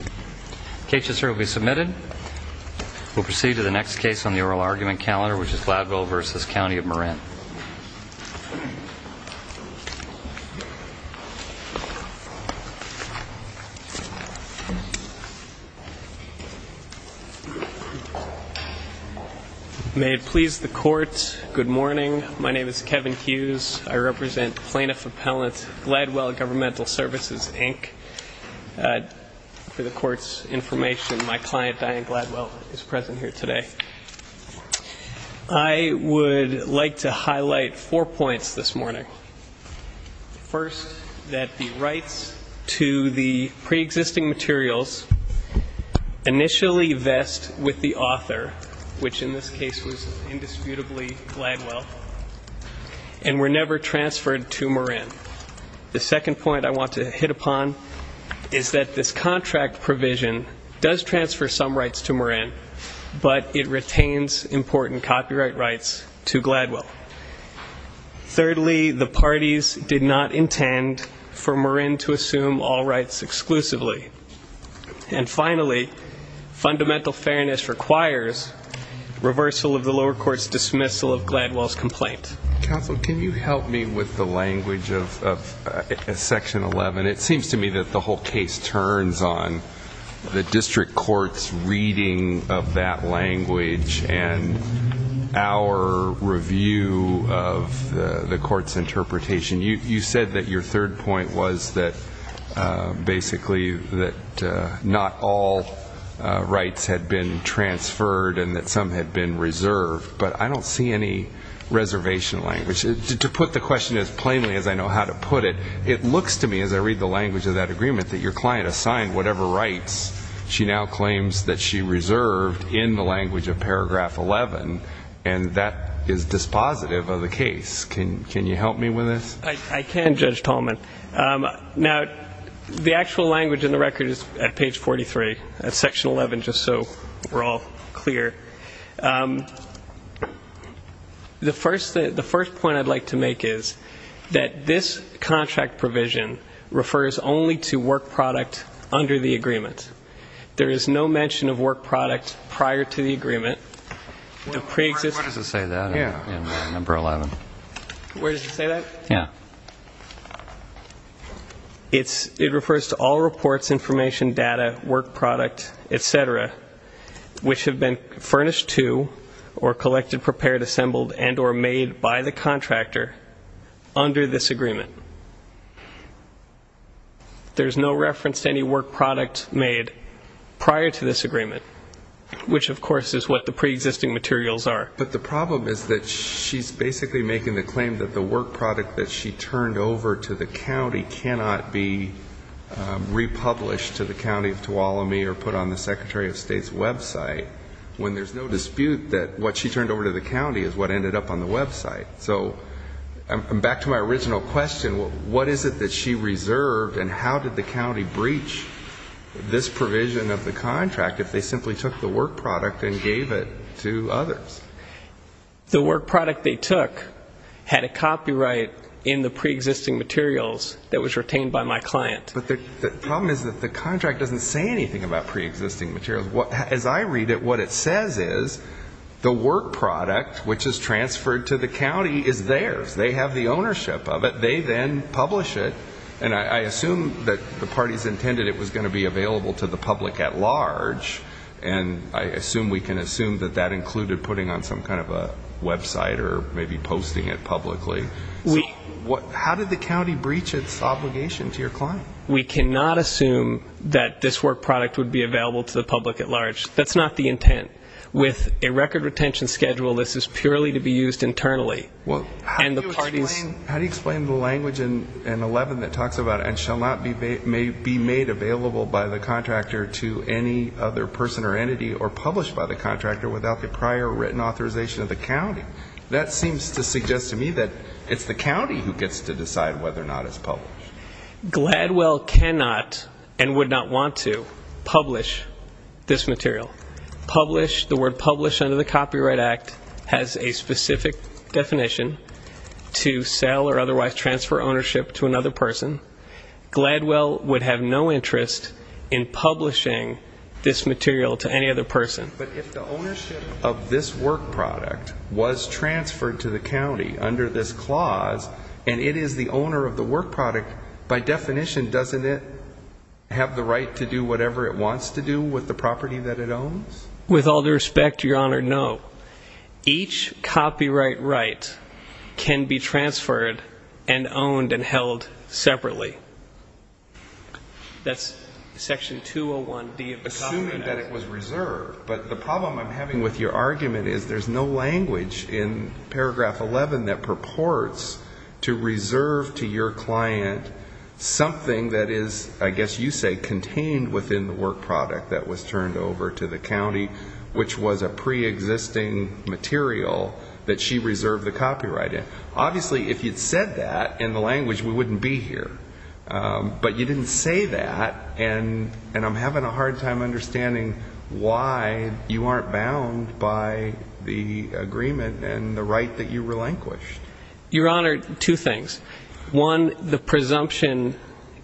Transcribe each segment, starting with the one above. May it please the court, good morning. My name is Kevin Hughes. I represent plaintiff-appellant Gladwell Governmental Services, Inc. For the court's information, my client Diane Gladwell is present here today. I would like to highlight four points this morning. First, that the rights to the pre-existing materials initially vest with the author, which in this case was indisputably Gladwell, and were never transferred to Marin. The second point I want to hit upon is that this contract provision does transfer some rights to Marin, but it retains important copyright rights to Gladwell. Thirdly, the parties did not intend for Marin to assume all rights exclusively. And finally, fundamental fairness requires reversal of the lower court's dismissal of Gladwell's complaint. Counsel, can you help me with the language of section 11? It seems to me that the whole case turns on the district court's reading of that language and our review of the court's interpretation. You said that your third point was that basically that not all rights had been transferred and that some had been reserved, but I don't see any reservation language. To put the question as plainly as I know how to put it, it looks to me as I read the language of that agreement that your client assigned whatever rights she now claims that she reserved in the language of paragraph 11, and that is dispositive of the case. Can you help me with this? I can, Judge Tallman. Now, the actual language in the record is at page 43, at section 11, just so we're all clear. The first point I'd like to make is that this contract provision refers only to work product under the agreement. There is no mention of work product prior to the agreement. Where does it say that in number 11? Where does it say that? Yeah. It refers to all reports, information, data, work product, et cetera, which have been furnished to or collected, prepared, assembled, and or made by the contractor under this agreement. There's no reference to any work product made prior to this agreement, which, of course, is what the preexisting materials are. But the problem is that she's basically making the claim that the work product that she turned over to the county cannot be republished to the county of Tuolumne or put on the Secretary of State's website when there's no dispute that what she turned over to the county is what ended up on the website. So back to my original question, what is it that she reserved and how did the county breach this provision of the contract if they simply took the work product and gave it to others? The work product they took had a copyright in the preexisting materials that was retained by my client. But the problem is that the contract doesn't say anything about preexisting materials. As I read it, what it says is the work product, which is transferred to the county, is theirs. They have the ownership of it. They then publish it. And I assume that the parties intended it was going to be available to the public at large, and I assume we can assume that that included putting on some kind of a website or maybe posting it publicly. How did the county breach its obligation to your client? We cannot assume that this work product would be available to the public at large. That's not the intent. With a record retention schedule, this is purely to be used internally. How do you explain the language in 11 that talks about and shall not be made available by the contractor to any other person or entity or published by the contractor without the prior written authorization of the county? That seems to suggest to me that it's the county who gets to decide whether or not it's published. Gladwell cannot and would not want to publish this material. Publish, the word publish under the Copyright Act, has a specific definition to sell or otherwise transfer ownership to another person. Gladwell would have no interest in publishing this material to any other person. But if the ownership of this work product was transferred to the county under this clause, and it is the owner of the work product, by definition, doesn't it have the right to do whatever it wants to do with the property that it owns? With all due respect, Your Honor, no. Each copyright right can be transferred and owned and held separately. But the problem I'm having with your argument is there's no language in paragraph 11 that purports to reserve to your client something that is, I guess you say, contained within the work product that was turned over to the county, which was a preexisting material that she reserved the copyright in. Obviously, if you'd said that in the language, we wouldn't be here. But you didn't say that, and I'm having a hard time understanding why you aren't bound by the agreement and the right that you relinquished. Your Honor, two things. One, the presumption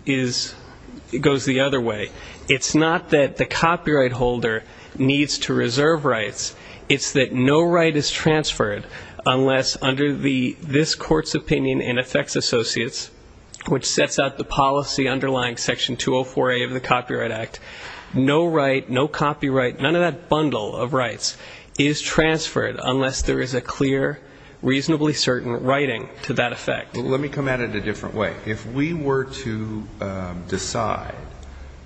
goes the other way. It's not that the copyright holder needs to reserve rights. It's that no right is transferred unless, under this Court's opinion in effects associates, which sets out the policy underlying section 204A of the Copyright Act, no right, no copyright, none of that bundle of rights is transferred unless there is a clear, reasonably certain writing to that effect. Let me come at it a different way. If we were to decide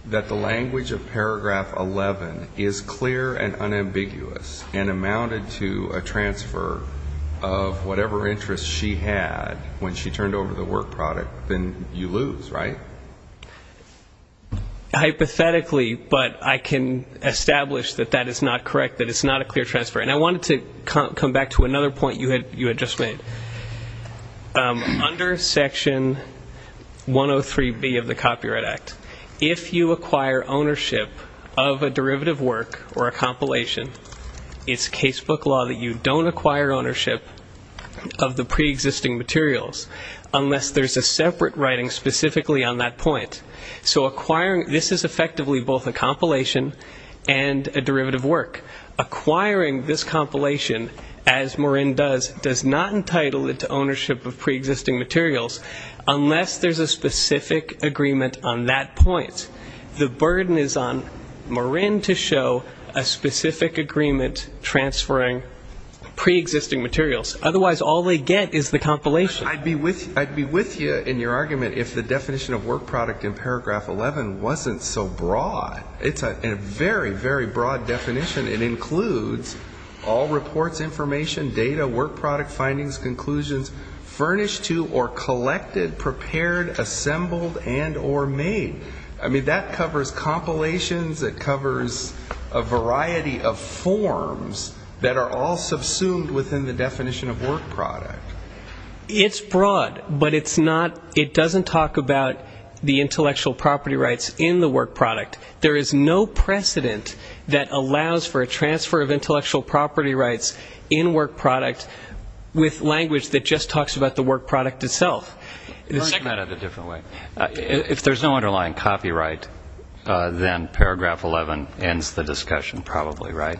that the language of paragraph 11 is clear and unambiguous and amounted to a transfer of whatever interest she had when she turned over the work product, then you lose, right? Hypothetically, but I can establish that that is not correct, that it's not a clear transfer. And I wanted to come back to another point you had just made. Under section 103B of the Copyright Act, if you acquire ownership of a derivative work or a compilation, it's casebook law that you don't acquire ownership of the preexisting materials unless there's a separate writing specifically on that point. So acquiring, this is effectively both a compilation and a derivative work. Acquiring this compilation, as Marin does, does not entitle it to ownership of preexisting materials unless there's a specific agreement on that point. The burden is on Marin to show a specific agreement transferring preexisting materials. Otherwise, all they get is the compilation. I'd be with you in your argument if the definition of work product in paragraph 11 wasn't so broad. It's a very, very broad definition. It includes all reports, information, data, work product findings, conclusions, furnished to or collected, prepared, assembled, and or made. I mean, that covers compilations. It covers a variety of forms that are all subsumed within the definition of work product. It's broad, but it's not, it doesn't talk about the intellectual property rights in the work product. There is no precedent that allows for a transfer of intellectual property rights in work product with language that just talks about the work product itself. If there's no underlying copyright, then paragraph 11 ends the discussion probably, right?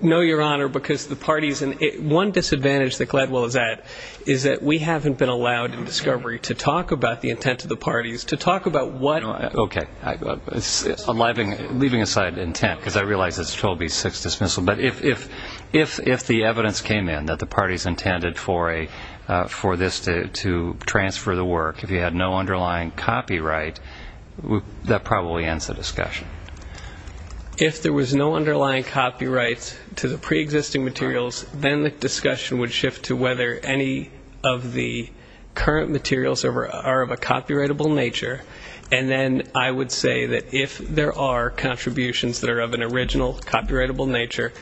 No, Your Honor, because the parties, and one disadvantage that Gladwell is at, is that we haven't been allowed in discovery to talk about the intent of the parties, to talk about what. Okay. Leaving aside intent, because I realize it's 12B6 dismissal, but if the evidence came in that the parties intended for this to transfer the work, if you had no underlying copyright, that probably ends the discussion. If there was no underlying copyright to the preexisting materials, then the discussion would shift to whether any of the current materials are of a copyrightable nature, and then I would say that if there are contributions that are of an original copyrightable nature,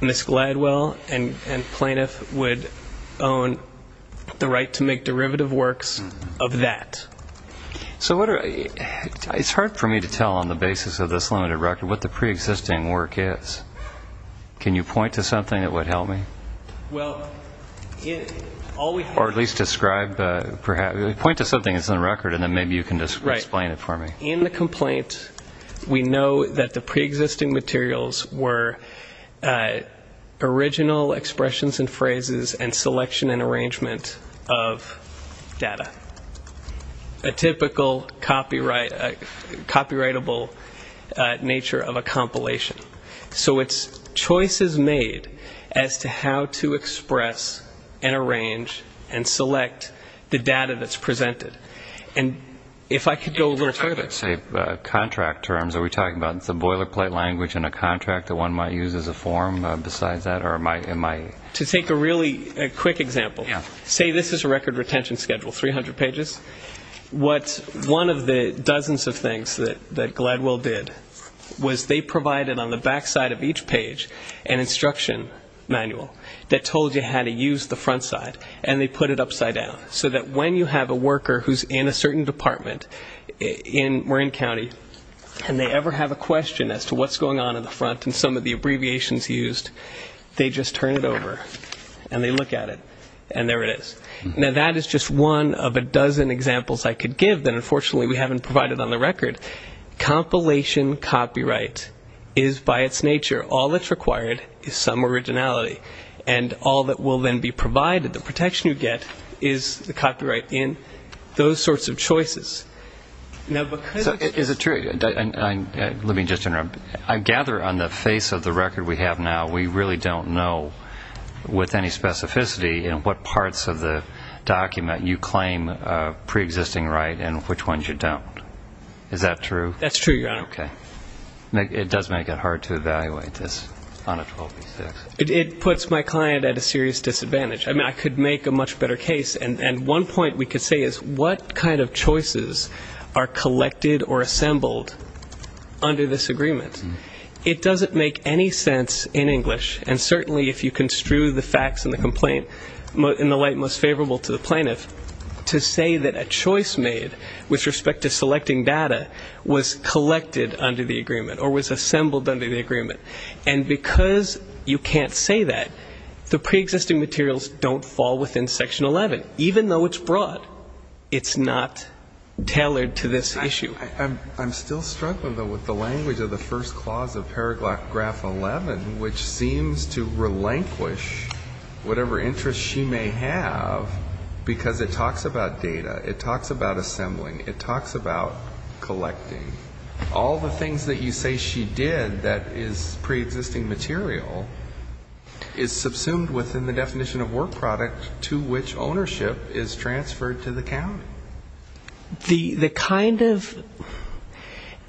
Ms. Gladwell and plaintiff would own the right to make derivative works of that. It's hard for me to tell on the basis of this limited record what the preexisting work is. Can you point to something that would help me? Or at least describe, point to something that's in the record, and then maybe you can explain it for me. In the complaint, we know that the preexisting materials were original expressions and phrases and selection and arrangement of data. A typical copyrightable nature of a compilation. So it's choices made as to how to express and arrange and select the data that's presented. And if I could go a little further. Contract terms, are we talking about some boilerplate language in a contract that one might use as a form besides that? To take a really quick example. Say this is a record retention schedule, 300 pages. One of the dozens of things that Gladwell did was they provided on the backside of each page an instruction manual that told you how to use the front side, and they put it upside down, so that when you have a worker who's in a certain department in Marin County, and they ever have a question as to what's going on in the front and some of the abbreviations used, they just turn it over and they look at it, and there it is. Now, that is just one of a dozen examples I could give that unfortunately we haven't provided on the record. Compilation copyright is by its nature, all that's required is some originality. And all that will then be provided, the protection you get, is the copyright in those sorts of choices. Now, because of this. Is it true? Let me just interrupt. I gather on the face of the record we have now, we really don't know with any specificity in what parts of the document you claim preexisting right and which ones you don't. Is that true? That's true, Your Honor. Okay. It does make it hard to evaluate this on a 12B6. It puts my client at a serious disadvantage. I mean, I could make a much better case. And one point we could say is what kind of choices are collected or assembled under this agreement? It doesn't make any sense in English, and certainly if you construe the facts in the complaint in the light most favorable to the plaintiff, to say that a choice made with respect to selecting data was collected under the agreement or was assembled under the agreement. And because you can't say that, the preexisting materials don't fall within Section 11, even though it's broad. It's not tailored to this issue. I'm still struggling, though, with the language of the first clause of paragraph 11, which seems to relinquish whatever interest she may have, because it talks about data. It talks about assembling. It talks about collecting. All the things that you say she did that is preexisting material is subsumed within the definition of work product to which ownership is transferred to the county. The kind of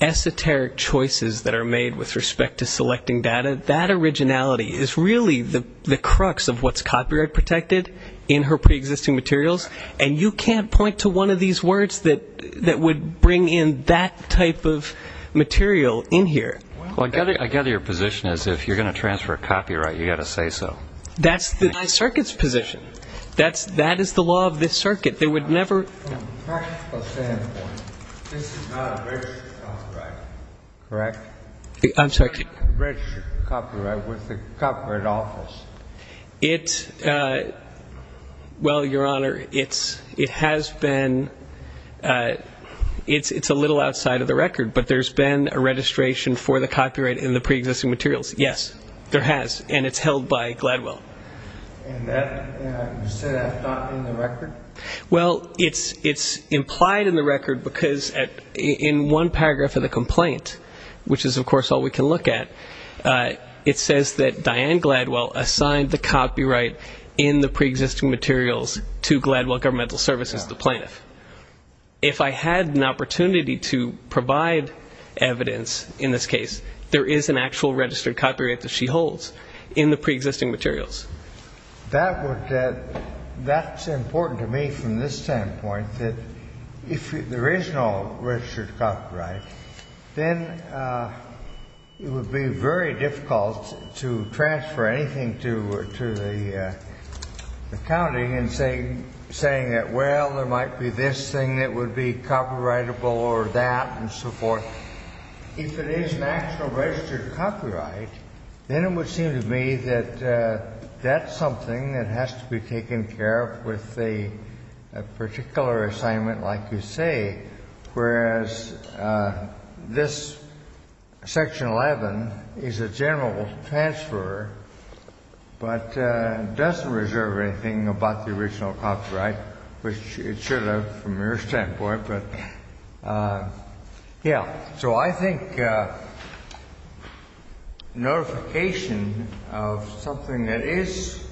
esoteric choices that are made with respect to selecting data, that originality is really the crux of what's copyright protected in her preexisting materials, and you can't point to one of these words that would bring in that type of material in here. Well, I gather your position is if you're going to transfer copyright, you've got to say so. That's my circuit's position. That is the law of this circuit. They would never ---- From a practical standpoint, this is not a registered copyright, correct? I'm sorry? A registered copyright with the Copyright Office. Well, Your Honor, it has been ---- it's a little outside of the record, but there's been a registration for the copyright in the preexisting materials. Yes, there has, and it's held by Gladwell. And you say that's not in the record? Well, it's implied in the record because in one paragraph of the complaint, which is, of course, all we can look at, it says that Diane Gladwell assigned the copyright in the preexisting materials to Gladwell Governmental Services, the plaintiff. If I had an opportunity to provide evidence in this case, there is an actual registered copyright that she holds in the preexisting materials. That's important to me from this standpoint, that if there is no registered copyright, then it would be very difficult to transfer anything to the county in saying that, well, there might be this thing that would be copyrightable or that and so forth. If it is an actual registered copyright, then it would seem to me that that's something that has to be taken care of with a particular assignment like you say, whereas this section 11 is a general transfer, but doesn't reserve anything about the original copyright, which it should have from your standpoint, but yeah. So I think notification of something that is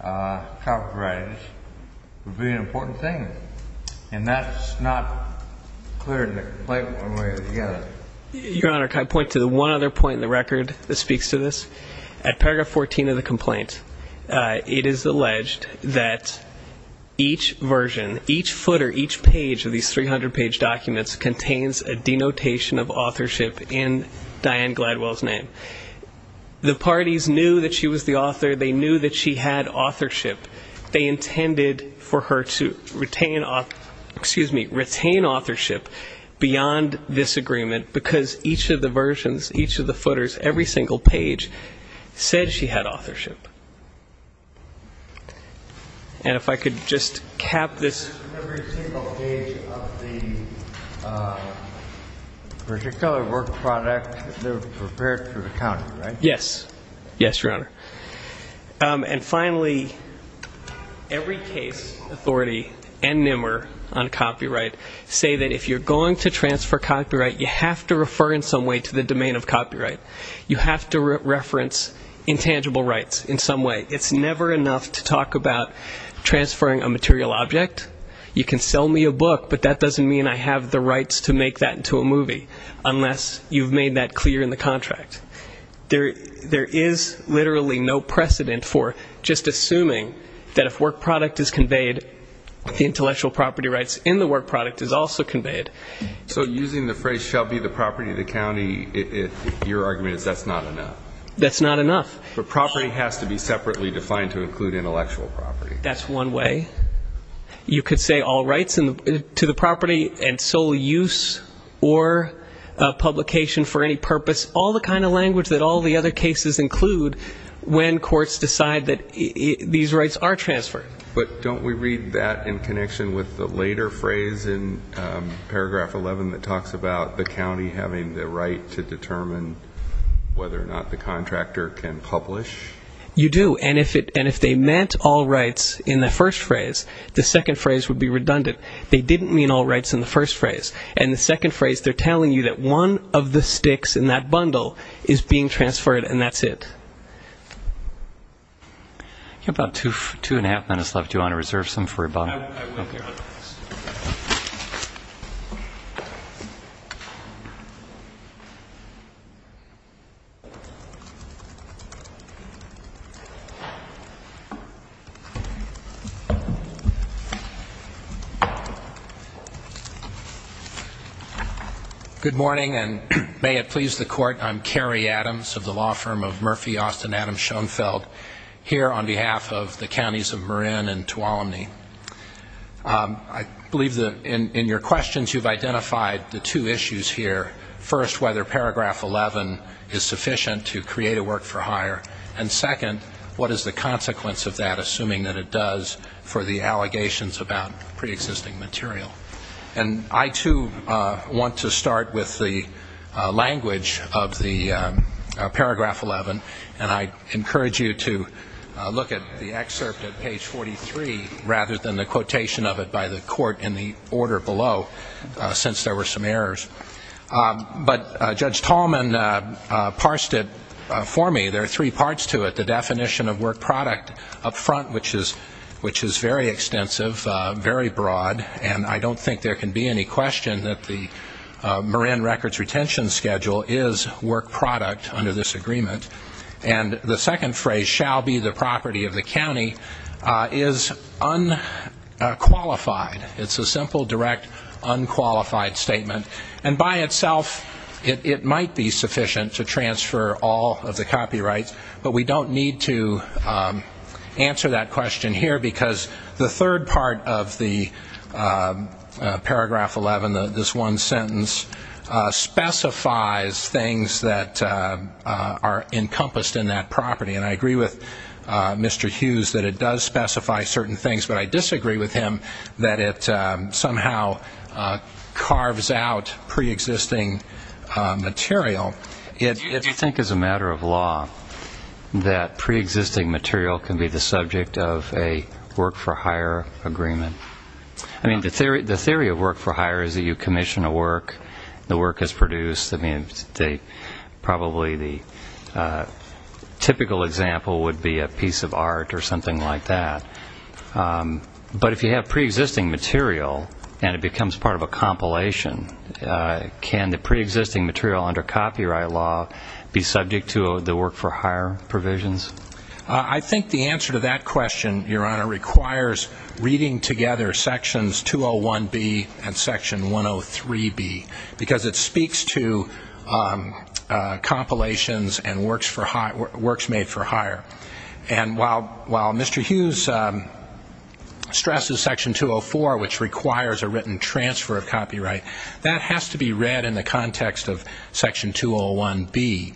copyrighted would be an important thing. And that's not clear in the complaint. Your Honor, can I point to one other point in the record that speaks to this? At paragraph 14 of the complaint, it is alleged that each version, each footer, each page of these 300-page documents contains a denotation of authorship in Diane Gladwell's name. The parties knew that she was the author. They knew that she had authorship. They intended for her to retain authorship beyond this agreement because each of the versions, each of the footers, every single page said she had authorship. And if I could just cap this. Every single page of the particular work product, they're prepared for the county, right? Yes. Yes, Your Honor. And finally, every case authority and NMR on copyright say that if you're going to transfer copyright, you have to refer in some way to the domain of copyright. You have to reference intangible rights in some way. It's never enough to talk about transferring a material object. You can sell me a book, but that doesn't mean I have the rights to make that into a movie, unless you've made that clear in the contract. There is literally no precedent for just assuming that if work product is conveyed, the intellectual property rights in the work product is also conveyed. So using the phrase shall be the property of the county, your argument is that's not enough. That's not enough. The property has to be separately defined to include intellectual property. That's one way. You could say all rights to the property and sole use or publication for any purpose, all the kind of language that all the other cases include when courts decide that these rights are transferred. But don't we read that in connection with the later phrase in paragraph 11 that talks about the county having the right to determine whether or not the contractor can publish? You do. And if they meant all rights in the first phrase, the second phrase would be redundant. They didn't mean all rights in the first phrase. And the second phrase, they're telling you that one of the sticks in that bundle is being transferred and that's it. You have about two and a half minutes left. Do you want to reserve some for your bonus? I will. Good morning, and may it please the Court. I'm Kerry Adams of the law firm of Murphy Austin Adams Schoenfeld here on behalf of the counties of Marin and Tuolumne. I believe that in your questions you've identified the two issues here. First, whether paragraph 11 is sufficient to create a work-for-hire. And second, what is the consequence of that, assuming that it does, for the allegations about preexisting material? And I, too, want to start with the language of the paragraph 11, and I encourage you to look at the excerpt at page 43 rather than the quotation of it by the Court in the order below, since there were some errors. But Judge Tallman parsed it for me. There are three parts to it. The definition of work product up front, which is very extensive, very broad, and I don't think there can be any question that the Marin records retention schedule is work product under this agreement. And the second phrase, shall be the property of the county, is unqualified. It's a simple, direct, unqualified statement. And by itself, it might be sufficient to transfer all of the copyrights, but we don't need to answer that question here because the third part of the paragraph 11, this one sentence, specifies things that are encompassed in that property. And I agree with Mr. Hughes that it does specify certain things, but I disagree with him that it somehow carves out preexisting material. Do you think as a matter of law that preexisting material can be the subject of a work for hire agreement? I mean, the theory of work for hire is that you commission a work, the work is produced. I mean, probably the typical example would be a piece of art or something like that. But if you have preexisting material and it becomes part of a compilation, can the preexisting material under copyright law be subject to the work for hire provisions? I think the answer to that question, Your Honor, requires reading together sections 201B and section 103B because it speaks to compilations and works made for hire. And while Mr. Hughes stresses section 204, which requires a written transfer of copyright, that has to be read in the context of section 201B,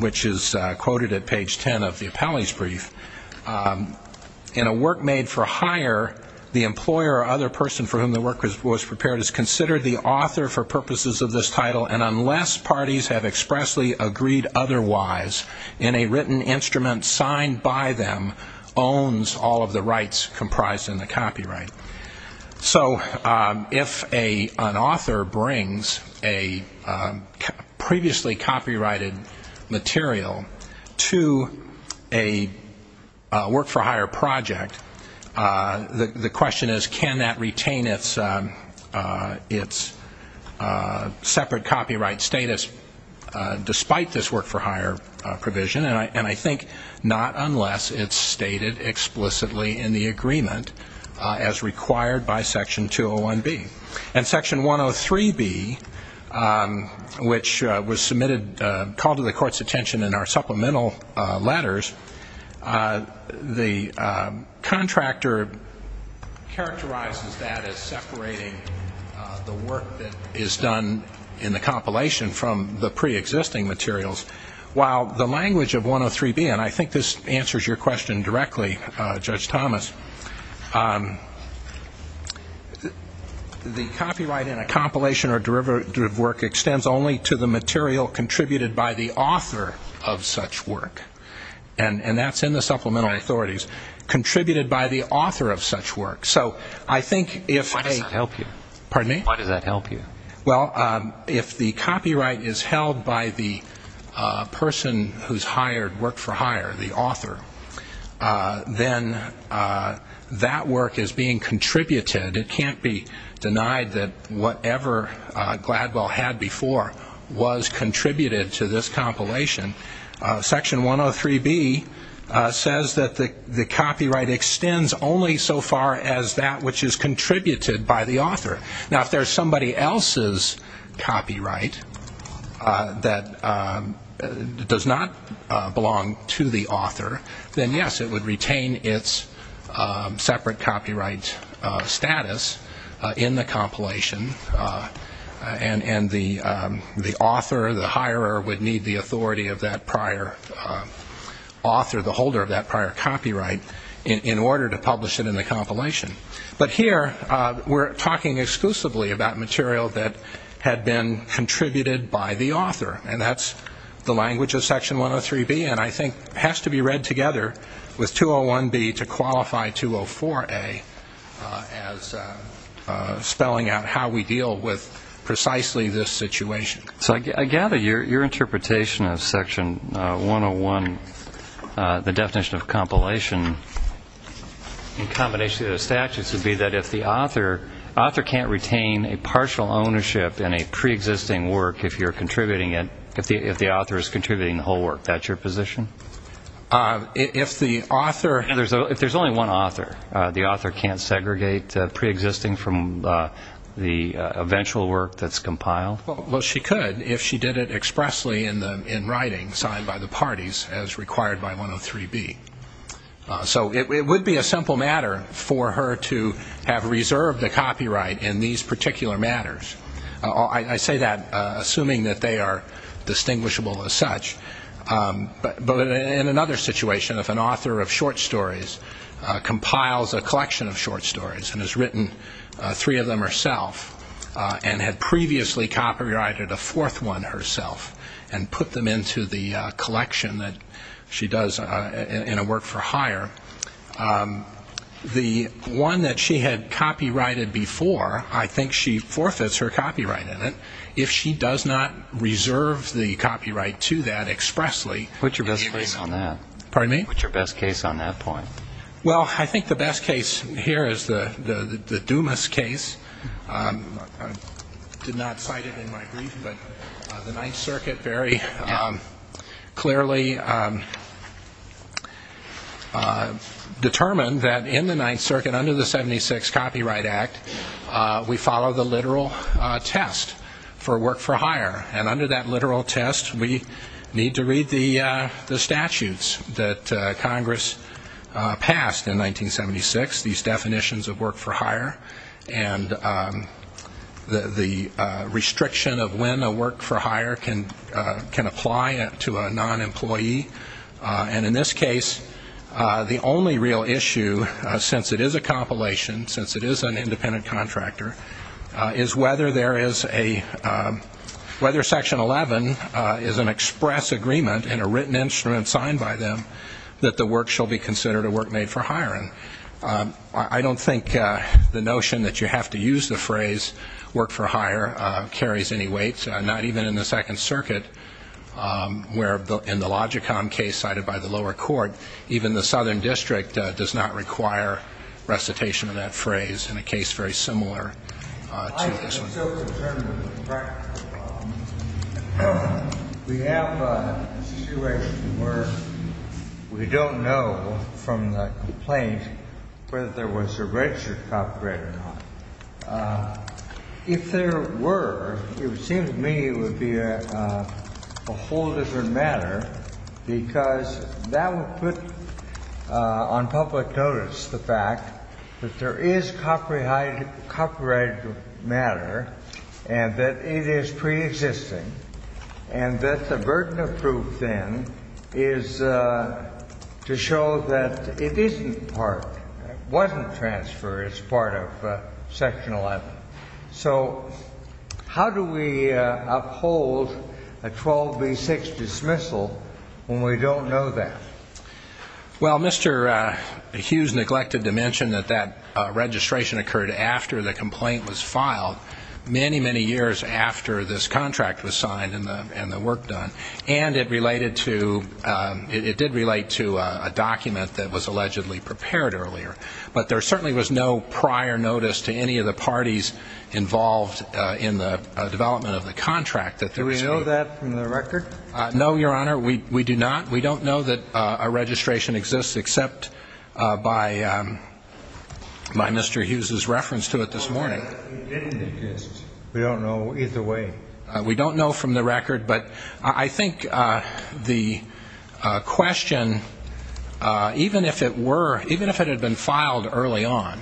which is quoted at page 10 of the appellee's brief. In a work made for hire, the employer or other person for whom the work was prepared is considered the author for purposes of this title, and unless parties have expressly agreed otherwise, any written instrument signed by them owns all of the rights comprised in the copyright. So if an author brings a previously copyrighted material to a work for hire project, the question is, can that retain its separate copyright status despite this work for hire provision? And I think not unless it's stated explicitly in the agreement as required by section 201B. In section 103B, which was submitted, called to the Court's attention in our supplemental letters, the contractor characterizes that as separating the work that is done in the compilation from the preexisting materials. While the language of 103B, and I think this answers your question directly, Judge Thomas, the copyright in a compilation or derivative work extends only to the material contributed by the author of such work. And that's in the supplemental authorities. Contributed by the author of such work. So I think if they help you. Pardon me? Why does that help you? Well, if the copyright is held by the person who's hired work for hire, the author, then that work is being contributed. It can't be denied that whatever Gladwell had before was contributed to this compilation. Section 103B says that the copyright extends only so far as that which is contributed by the author. Now, if there's somebody else's copyright that does not belong to the author, then, yes, it would retain its separate copyright status in the compilation, and the author, the hirer, would need the authority of that prior author, the holder of that prior copyright, in order to publish it in the compilation. But here we're talking exclusively about material that had been contributed by the author, and that's the language of Section 103B, and I think has to be read together with 201B to qualify 204A as spelling out how we deal with precisely this situation. So I gather your interpretation of Section 101, the definition of compilation in combination with the statutes, would be that if the author can't retain a partial ownership in a preexisting work if you're contributing it, if the author is contributing the whole work, that's your position? If there's only one author, the author can't segregate preexisting from the eventual work that's compiled? Well, she could if she did it expressly in writing, signed by the parties as required by 103B. So it would be a simple matter for her to have reserved the copyright in these particular matters. I say that assuming that they are distinguishable as such. But in another situation, if an author of short stories compiles a collection of short stories and has written three of them herself and had previously copyrighted a fourth one herself and put them into the collection that she does in a work for hire, the one that she had copyrighted before, I think she forfeits her copyright in it. If she does not reserve the copyright to that expressly. What's your best case on that? Pardon me? What's your best case on that point? Well, I think the best case here is the Dumas case. I did not cite it in my brief, but the Ninth Circuit very clearly determined that in the Ninth Circuit, under the 76 Copyright Act, we follow the literal test for work for hire. And under that literal test, we need to read the statutes that Congress passed in 1976, these definitions of work for hire and the restriction of when a work for hire can apply to a non-employee. And in this case, the only real issue, since it is a compilation, since it is an independent contractor, is whether Section 11 is an express agreement in a written instrument signed by them that the work shall be considered a work made for hiring. I don't think the notion that you have to use the phrase work for hire carries any weight, not even in the Second Circuit, where in the Logicom case cited by the lower court, even the Southern District does not require recitation of that phrase in a case very similar to this one. I am so determined that we have a situation where we don't know from the complaint whether there was a registered copyright or not. If there were, it seems to me it would be a whole different matter, because that would put on public notice the fact that there is copyrighted matter and that it is preexisting, and that the burden of proof then is to show that it wasn't transferred as part of Section 11. So how do we uphold a 12B6 dismissal when we don't know that? Well, Mr. Hughes neglected to mention that that registration occurred after the complaint was filed, many, many years after this contract was signed and the work done, and it did relate to a document that was allegedly prepared earlier. But there certainly was no prior notice to any of the parties involved in the development of the contract. Do we know that from the record? No, Your Honor, we do not. We don't know that a registration exists except by Mr. Hughes' reference to it this morning. It didn't exist. We don't know either way. We don't know from the record, but I think the question, even if it had been filed early on,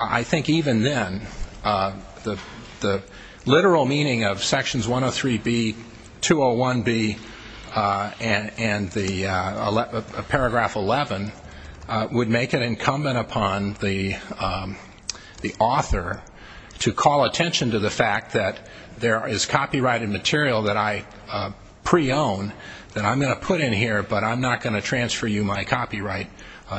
I think even then the literal meaning of Sections 103B, 201B, and Paragraph 11 would make it incumbent upon the author to call attention to the fact that there is copyrighted material that I pre-own that I'm going to put in here, but I'm not going to transfer you my copyright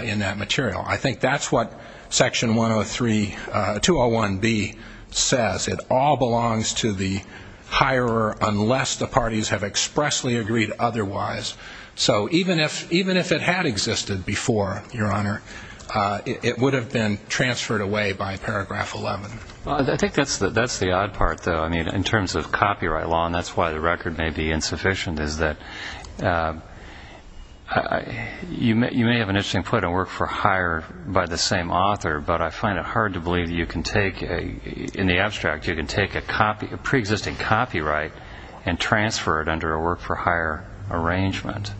in that material. I think that's what Section 103, 201B says. It all belongs to the hirer unless the parties have expressly agreed otherwise. So even if it had existed before, Your Honor, it would have been transferred away by Paragraph 11. I think that's the odd part, though. I mean, in terms of copyright law, and that's why the record may be insufficient, is that you may have an interesting point on work for hire by the same author, but I find it hard to believe that you can take, in the abstract, you can take a pre-existing copyright and transfer it under a work for hire arrangement.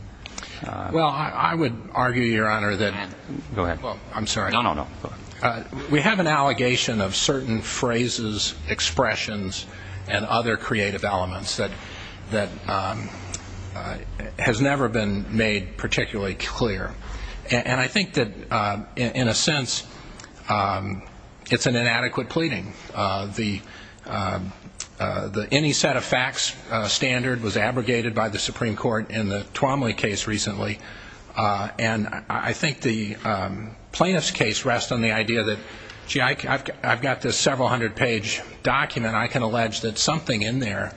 Well, I would argue, Your Honor, that we have an allegation of certain phrases, expressions, and other creative elements that has never been made particularly clear. And I think that, in a sense, it's an inadequate pleading. Any set of facts standard was abrogated by the Supreme Court in the Twomley case recently, and I think the plaintiff's case rests on the idea that, gee, I've got this several-hundred-page document. And I can allege that something in there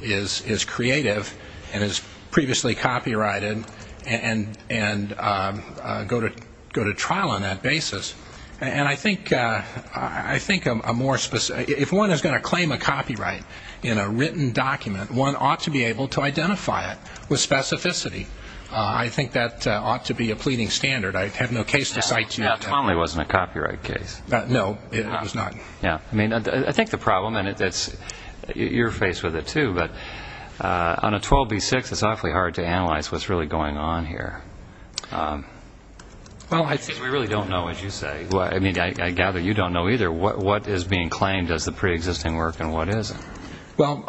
is creative and is previously copyrighted and go to trial on that basis. And I think a more specific ‑‑ if one is going to claim a copyright in a written document, one ought to be able to identify it with specificity. I think that ought to be a pleading standard. I have no case to cite to you. Twomley wasn't a copyright case. No, it was not. Yeah. I mean, I think the problem, and you're faced with it, too, but on a 12B6, it's awfully hard to analyze what's really going on here. Well, I think we really don't know, as you say. I mean, I gather you don't know either. What is being claimed as the preexisting work and what isn't? Well,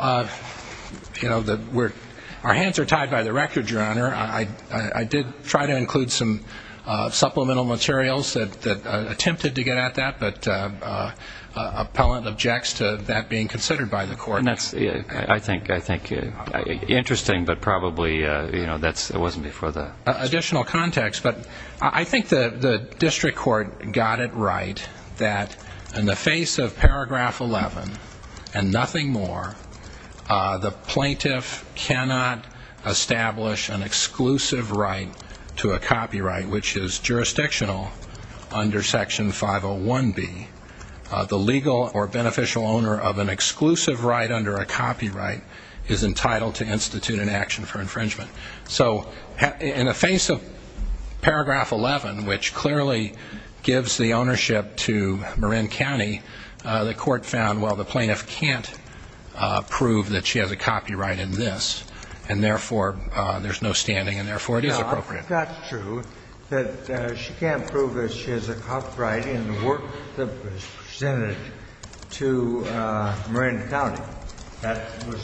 you know, our hands are tied by the record, Your Honor. I did try to include some supplemental materials that attempted to get at that, but an appellant objects to that being considered by the court. I think it's interesting, but probably, you know, it wasn't before that. Additional context, but I think the district court got it right that in the face of Paragraph 11 and nothing more, the plaintiff cannot establish an exclusive right to a copyright, which is jurisdictional under Section 501B. The legal or beneficial owner of an exclusive right under a copyright is entitled to institute an action for infringement. So in the face of Paragraph 11, which clearly gives the ownership to Marin County, the court found, well, the plaintiff can't prove that she has a copyright in this, and therefore there's no standing and therefore it is appropriate. It's not true that she can't prove that she has a copyright in the work that was presented to Marin County. That was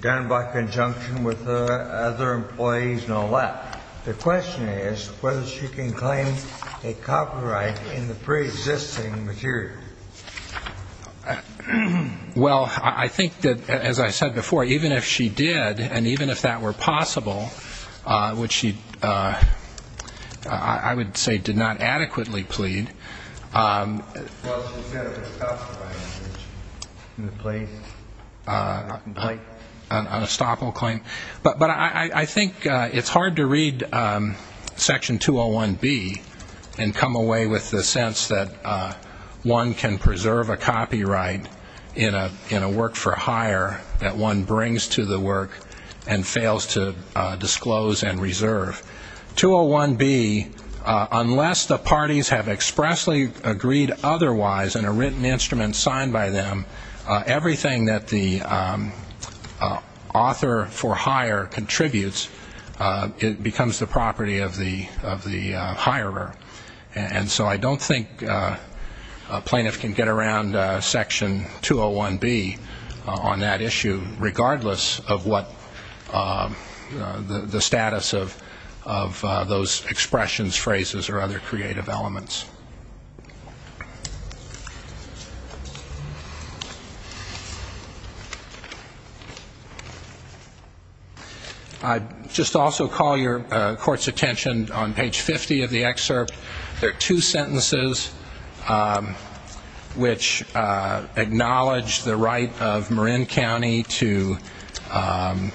done by conjunction with other employees and all that. The question is whether she can claim a copyright in the preexisting material. Well, I think that, as I said before, even if she did and even if that were possible, which she, I would say, did not adequately plead. Well, she said it was a copyright infringement in the plaintiff's complaint. An unstoppable claim. But I think it's hard to read Section 201B and come away with the sense that one can preserve a copyright in a work for hire that one brings to the work and fails to disclose and reserve. 201B, unless the parties have expressly agreed otherwise in a written instrument signed by them, everything that the author for hire contributes becomes the property of the hirer. And so I don't think a plaintiff can get around Section 201B on that issue, regardless of what the status of those expressions, phrases, or other creative elements. I'd just also call your court's attention on page 50 of the excerpt. There are two sentences which acknowledge the right of Marin County to, a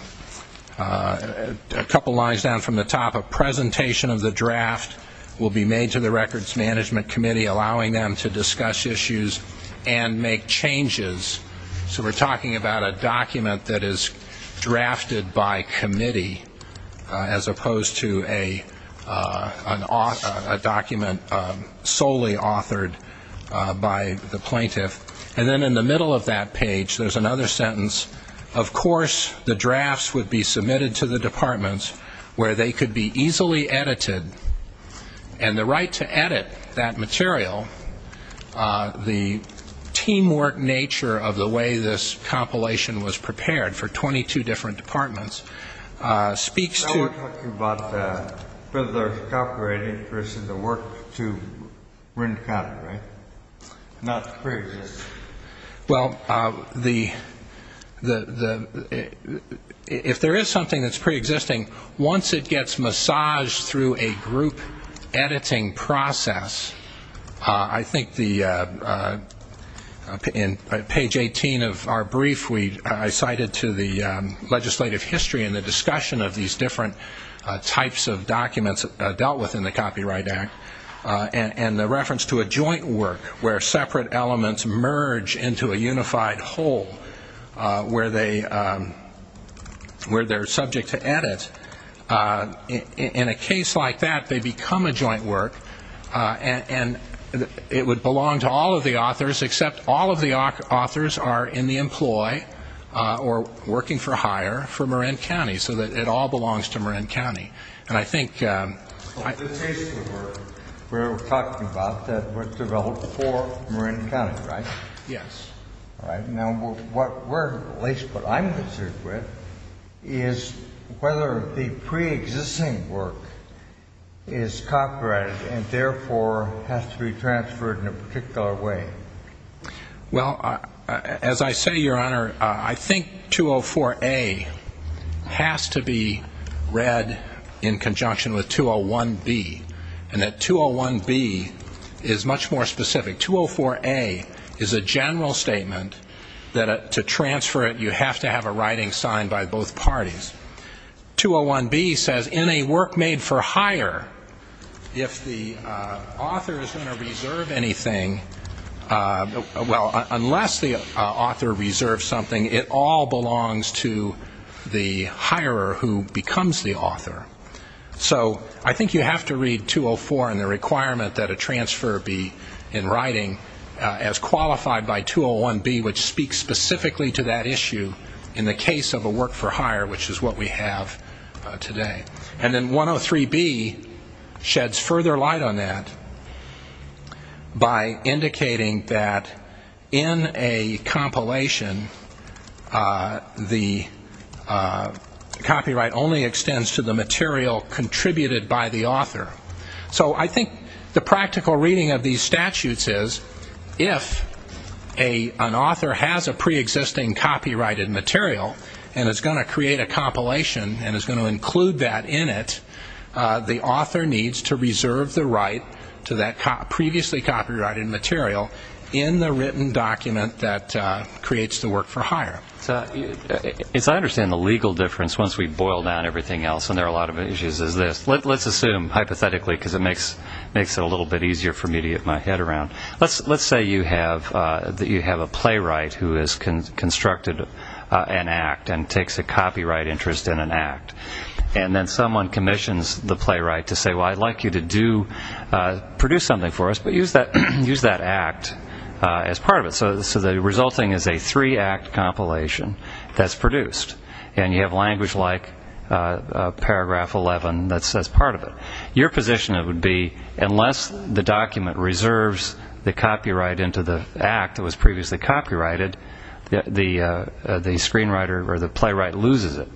couple lines down from the top, a presentation of the draft will be made to the Records Management Committee allowing them to discuss issues and make changes. So we're talking about a document that is drafted by committee, as opposed to a document solely authored by the plaintiff. And then in the middle of that page, there's another sentence, of course the drafts would be submitted to the departments where they could be easily edited, and the right to edit that material, the teamwork nature of the way this compilation was prepared for 22 different departments, speaks to the Now we're talking about Fiddler's Copyright Interest as a work to Marin County, right? Not preexisting. Well, if there is something that's preexisting, once it gets massaged through a group editing process, I think in page 18 of our brief I cited to the legislative history and the discussion of these different types of documents dealt with in the Copyright Act, and the reference to a joint work where separate elements merge into a unified whole, where they're subject to edit. In a case like that, they become a joint work, and it would belong to all of the authors except all of the authors are in the employ or working for hire for Marin County, so that it all belongs to Marin County. And I think the case we're talking about that was developed for Marin County, right? Yes. All right. Now, what I'm concerned with is whether the preexisting work is copyrighted and therefore has to be transferred in a particular way. Well, as I say, Your Honor, I think 204A has to be read in conjunction with 201B, and that 201B is much more specific. 204A is a general statement that to transfer it you have to have a writing signed by both parties. 201B says in a work made for hire, if the author is going to reserve anything, well, unless the author reserves something, it all belongs to the hirer who becomes the author. So I think you have to read 204 and the requirement that a transfer be in writing as qualified by 201B, which speaks specifically to that issue in the case of a work for hire, which is what we have today. And then 103B sheds further light on that by indicating that in a compilation, the copyright only extends to the material contributed by the author. So I think the practical reading of these statutes is if an author has a preexisting copyrighted material and is going to create a compilation and is going to include that in it, the author needs to reserve the right to that previously copyrighted material in the written document that creates the work for hire. As I understand the legal difference once we boil down everything else, and there are a lot of issues, is this. Let's assume, hypothetically, because it makes it a little bit easier for me to get my head around. Let's say you have a playwright who has constructed an act and takes a copyright interest in an act, and then someone commissions the playwright to say, well, I'd like you to produce something for us, well, use that act as part of it. So the resulting is a three-act compilation that's produced, and you have language like paragraph 11 that says part of it. Your position would be unless the document reserves the copyright into the act that was previously copyrighted, the screenwriter or the playwright loses it.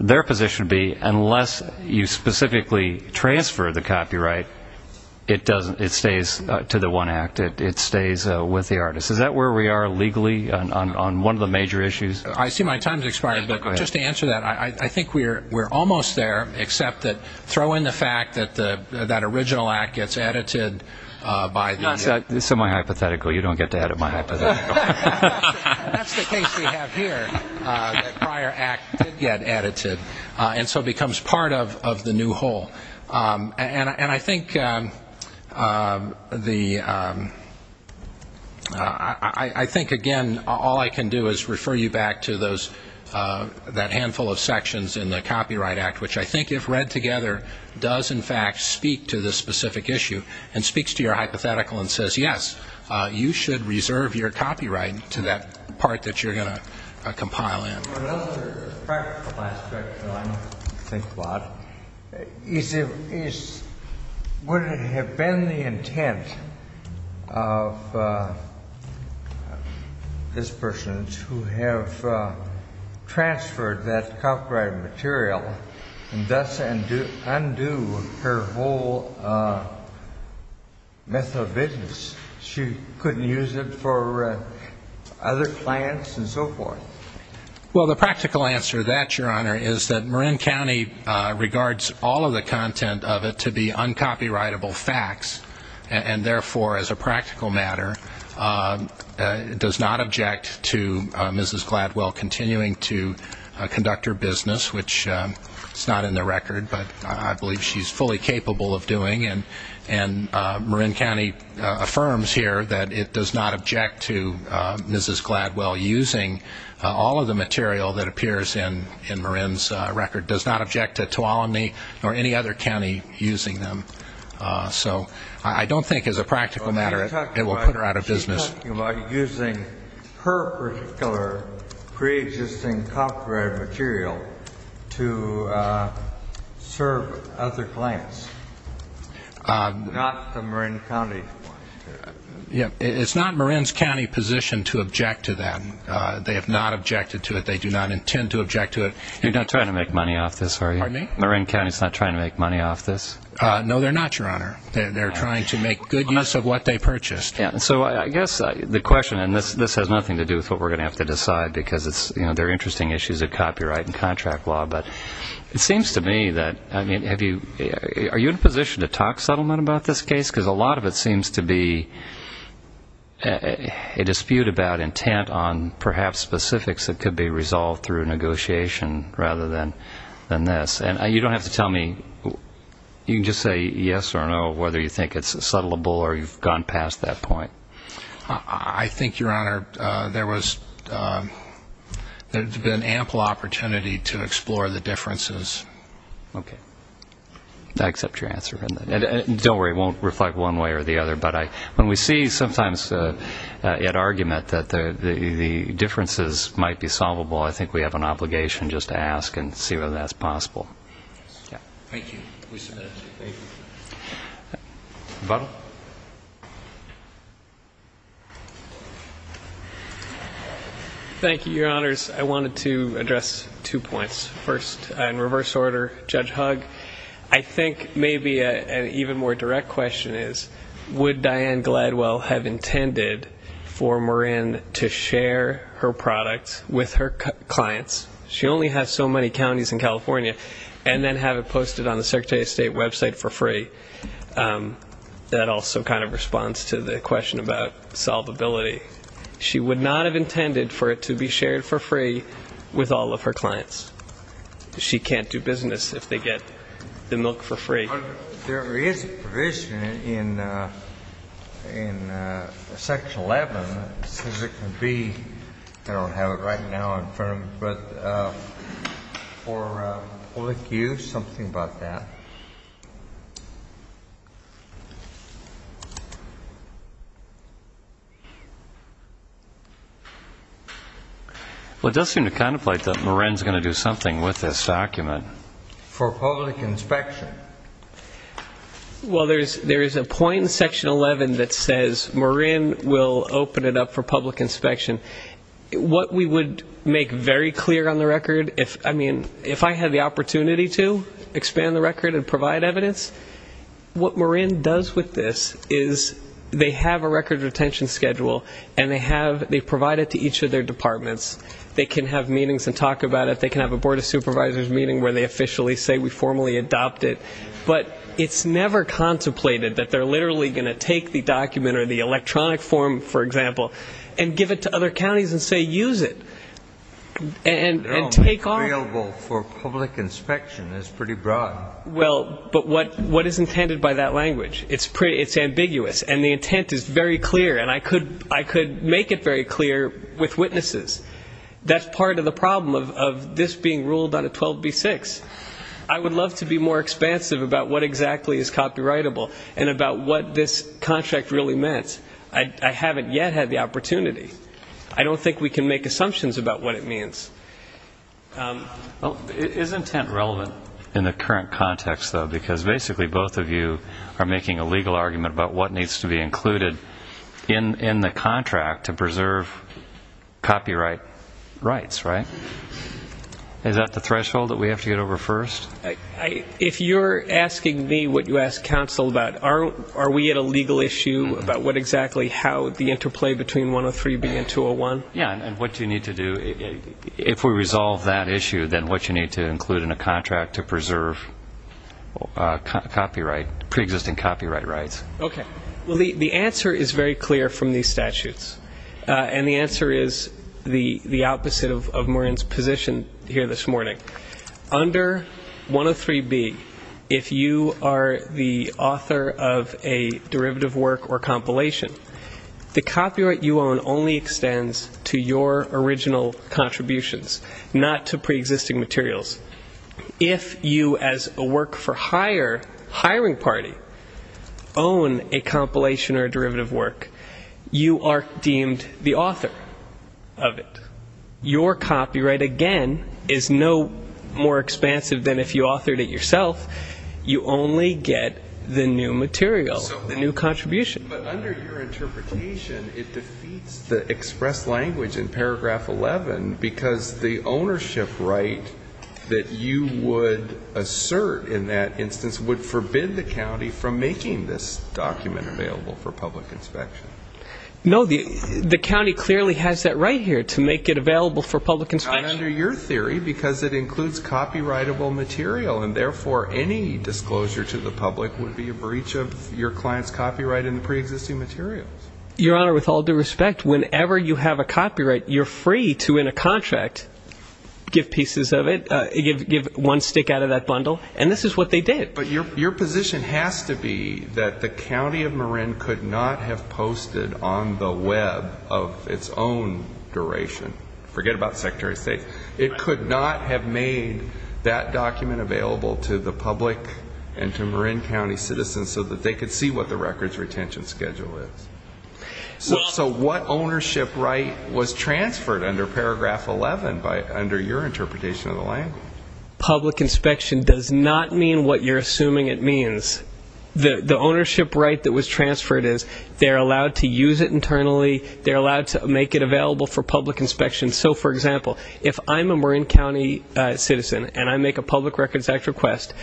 Their position would be unless you specifically transfer the copyright, it stays to the one act. It stays with the artist. Is that where we are legally on one of the major issues? I see my time has expired, but just to answer that, I think we're almost there, except that throw in the fact that that original act gets edited by the... That's semi-hypothetical. You don't get to edit my hypothetical. That's the case we have here, that prior act did get edited, and so becomes part of the new whole. And I think, again, all I can do is refer you back to that handful of sections in the Copyright Act, which I think if read together does, in fact, speak to this specific issue and speaks to your hypothetical and says, yes, you should reserve your copyright to that part that you're going to compile in. Another practical aspect, though I don't think a lot, is would it have been the intent of this person to have transferred that copyrighted material and thus undo her whole myth of business? She couldn't use it for other plans and so forth. Well, the practical answer to that, Your Honor, is that Marin County regards all of the content of it to be uncopyrightable facts, and therefore, as a practical matter, does not object to Mrs. Gladwell continuing to conduct her business, which is not in the record, but I believe she's fully capable of doing. And Marin County affirms here that it does not object to Mrs. Gladwell using all of the material that appears in Marin's record, does not object to Tuolumne or any other county using them. So I don't think as a practical matter it will put her out of business. She's talking about using her particular preexisting copyrighted material to serve other clients, not the Marin County. It's not Marin's county position to object to that. They have not objected to it. They do not intend to object to it. You're not trying to make money off this, are you? Pardon me? Marin County is not trying to make money off this. No, they're not, Your Honor. They're trying to make good use of what they purchased. So I guess the question, and this has nothing to do with what we're going to have to decide, because there are interesting issues of copyright and contract law. But it seems to me that, I mean, are you in a position to talk settlement about this case? Because a lot of it seems to be a dispute about intent on perhaps specifics that could be resolved through negotiation rather than this. And you don't have to tell me. You can just say yes or no, whether you think it's settlable or you've gone past that point. I think, Your Honor, there's been ample opportunity to explore the differences. Okay. I accept your answer. And don't worry, it won't reflect one way or the other. But when we see sometimes at argument that the differences might be solvable, I think we have an obligation just to ask and see whether that's possible. Thank you. We submit it. Thank you. Butler. Thank you, Your Honors. I wanted to address two points. First, in reverse order, Judge Hugg, I think maybe an even more direct question is, would Diane Gladwell have intended for Marin to share her products with her clients? She only has so many counties in California, and then have it posted on the Secretary of State website for free. That also kind of responds to the question about solvability. She would not have intended for it to be shared for free with all of her clients. She can't do business if they get the milk for free. There is a provision in Section 11, as it can be. I don't have it right now in front of me. But for public use, something about that. Well, it does seem to contemplate that Marin is going to do something with this document. For public inspection. Well, there is a point in Section 11 that says Marin will open it up for public inspection. What we would make very clear on the record, if I had the opportunity to expand the record and provide evidence, what Marin does with this is they have a record retention schedule, and they provide it to each of their departments. They can have meetings and talk about it. They can have a Board of Supervisors meeting where they officially say we formally adopt it. But it's never contemplated that they're literally going to take the document or the electronic form, for example, and give it to other counties and say, use it. And take all of it. It's available for public inspection. It's pretty broad. Well, but what is intended by that language? It's ambiguous, and the intent is very clear. And I could make it very clear with witnesses. That's part of the problem of this being ruled on a 12b-6. I would love to be more expansive about what exactly is copyrightable and about what this contract really meant. I haven't yet had the opportunity. I don't think we can make assumptions about what it means. Well, is intent relevant in the current context, though, because basically both of you are making a legal argument about what needs to be included in the contract to preserve copyright rights, right? Is that the threshold that we have to get over first? If you're asking me what you asked counsel about, are we at a legal issue about what exactly how the interplay between 103b and 201? Yeah, and what you need to do, if we resolve that issue, then what you need to include in a contract to preserve preexisting copyright rights. Okay. Well, the answer is very clear from these statutes, and the answer is the opposite of Maureen's position here this morning. Under 103b, if you are the author of a derivative work or compilation, the copyright you own only extends to your original contributions, not to preexisting materials. If you, as a work-for-hire hiring party, own a compilation or a derivative work, you are deemed the author of it. Your copyright, again, is no more expansive than if you authored it yourself. You only get the new material, the new contribution. But under your interpretation, it defeats the express language in paragraph 11 because the ownership right that you would assert in that instance would forbid the county from making this document available for public inspection. No, the county clearly has that right here to make it available for public inspection. Not under your theory because it includes copyrightable material, and therefore any disclosure to the public would be a breach of your client's copyright in the preexisting materials. Your Honor, with all due respect, whenever you have a copyright, you're free to, in a contract, give pieces of it, give one stick out of that bundle, and this is what they did. But your position has to be that the county of Maureen could not have posted on the Web of its own duration. Forget about Secretary of State. It could not have made that document available to the public and to Maureen County citizens so that they could see what the records retention schedule is. So what ownership right was transferred under paragraph 11 under your interpretation of the language? Public inspection does not mean what you're assuming it means. The ownership right that was transferred is they're allowed to use it internally. They're allowed to make it available for public inspection. So, for example, if I'm a Maureen County citizen and I make a Public Records Act request,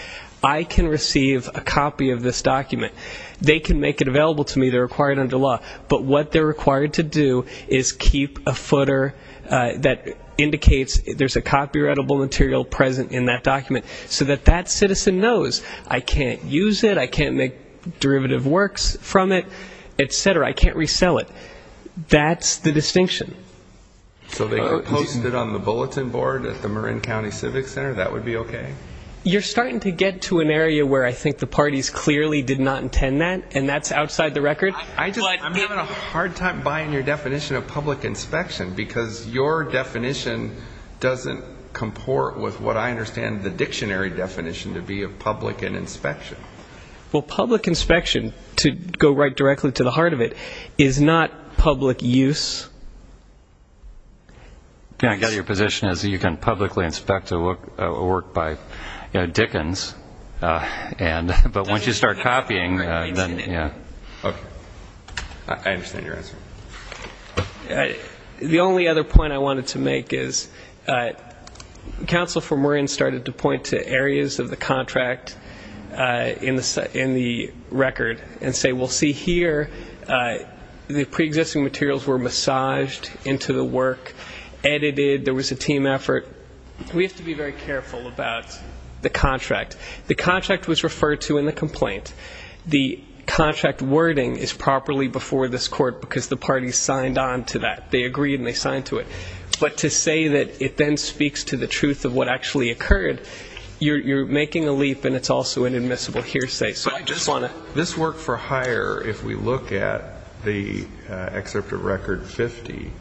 I can receive a copy of this document. They can make it available to me. They're required under law. But what they're required to do is keep a footer that indicates there's a copyrightable material present in that document so that that citizen knows I can't use it, I can't make derivative works from it, et cetera, I can't resell it. That's the distinction. So they could post it on the bulletin board at the Maureen County Civic Center? That would be okay? You're starting to get to an area where I think the parties clearly did not intend that, and that's outside the record. I'm having a hard time buying your definition of public inspection, because your definition doesn't comport with what I understand the dictionary definition to be of public and inspection. Well, public inspection, to go right directly to the heart of it, is not public use. I get it. Your position is you can publicly inspect a work by Dickens, but once you start copying, then, yeah. Okay. I understand your answer. The only other point I wanted to make is Counsel for Maureen started to point to areas of the contract in the record and say, well, see here, the preexisting materials were massaged into the work, edited, there was a team effort. We have to be very careful about the contract. The contract was referred to in the complaint. The contract wording is properly before this court because the parties signed on to that. They agreed and they signed to it. But to say that it then speaks to the truth of what actually occurred, you're making a leap and it's also an admissible hearsay. This work for hire, if we look at the excerpt of record 50,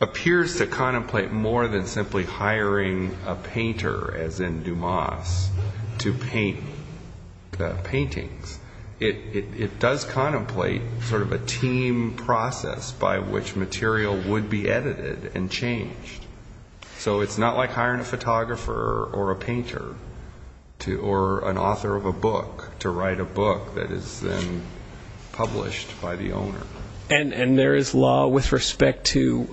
appears to contemplate more than simply hiring a painter, as in Dumas, to paint the paintings. It does contemplate sort of a team process by which material would be edited and changed. So it's not like hiring a photographer or a painter or an author of a book to write a book that is then published by the owner. And there is law with respect to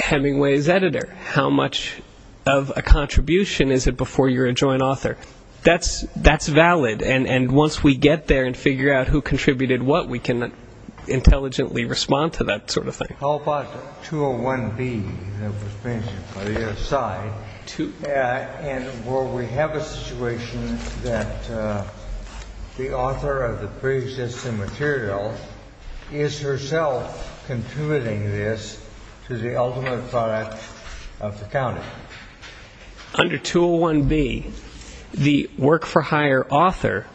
Hemingway's editor. How much of a contribution is it before you're a joint author? That's valid. And once we get there and figure out who contributed what, we can intelligently respond to that sort of thing. How about 201B that was mentioned by the other side? And will we have a situation that the author of the pre-existing material is herself contributing this to the ultimate product of the county? Under 201B, the work for hire author,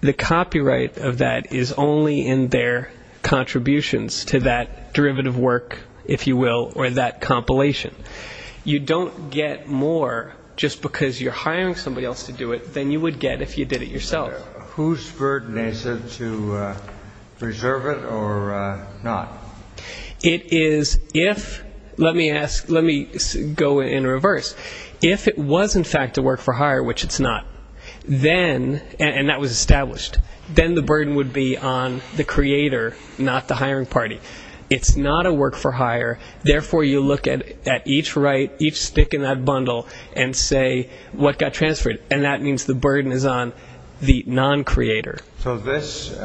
the copyright of that is only in their contributions to that derivative work, if you will, or that compilation. You don't get more just because you're hiring somebody else to do it than you would get if you did it yourself. Who's burden is it to preserve it or not? Let me go in reverse. If it was, in fact, a work for hire, which it's not, and that was established, then the burden would be on the creator, not the hiring party. It's not a work for hire. Therefore, you look at each stick in that bundle and say what got transferred, and that means the burden is on the non-creator. So this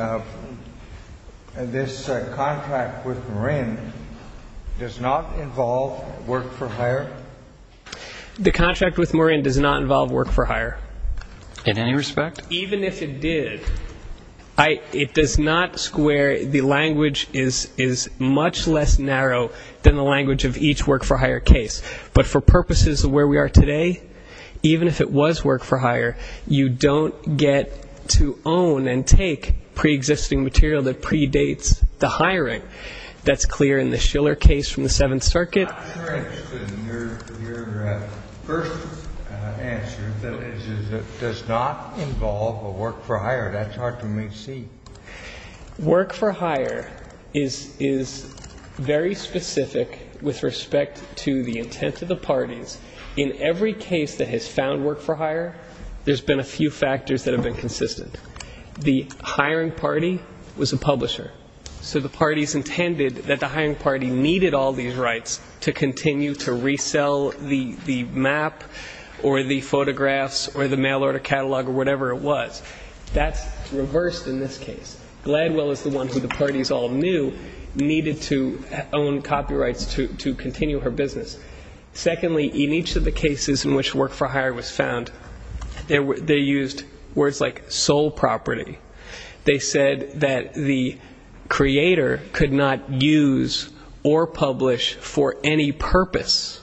contract with Morin does not involve work for hire? The contract with Morin does not involve work for hire. In any respect? Even if it did, it does not square. The language is much less narrow than the language of each work for hire case. But for purposes of where we are today, even if it was work for hire, you don't get to own and take preexisting material that predates the hiring. That's clear in the Schiller case from the Seventh Circuit. I'm not sure I understood your first answer, which is it does not involve a work for hire. That's hard for me to see. Work for hire is very specific with respect to the intent of the parties. In every case that has found work for hire, there's been a few factors that have been consistent. The hiring party was a publisher. So the parties intended that the hiring party needed all these rights to continue to resell the map or the photographs or the mail order catalog or whatever it was. That's reversed in this case. Gladwell is the one who the parties all knew needed to own copyrights to continue her business. Secondly, in each of the cases in which work for hire was found, they used words like sole property. They said that the creator could not use or publish for any purpose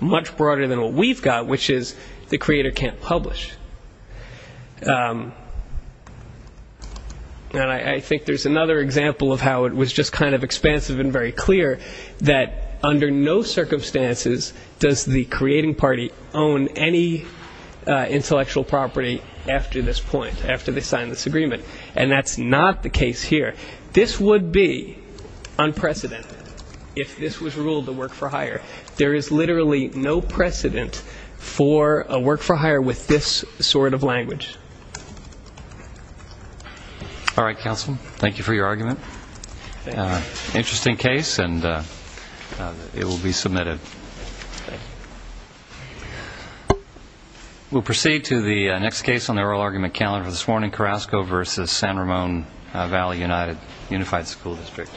much broader than what we've got, which is the creator can't publish. And I think there's another example of how it was just kind of expansive and very clear that under no circumstances does the creating party own any intellectual property after this point, after they sign this agreement. And that's not the case here. This would be unprecedented if this was ruled a work for hire. There is literally no precedent for a work for hire with this sort of language. All right, counsel. Thank you for your argument. Interesting case, and it will be submitted. We'll proceed to the next case on the oral argument calendar this morning. Carrasco versus San Ramon Valley United Unified School District.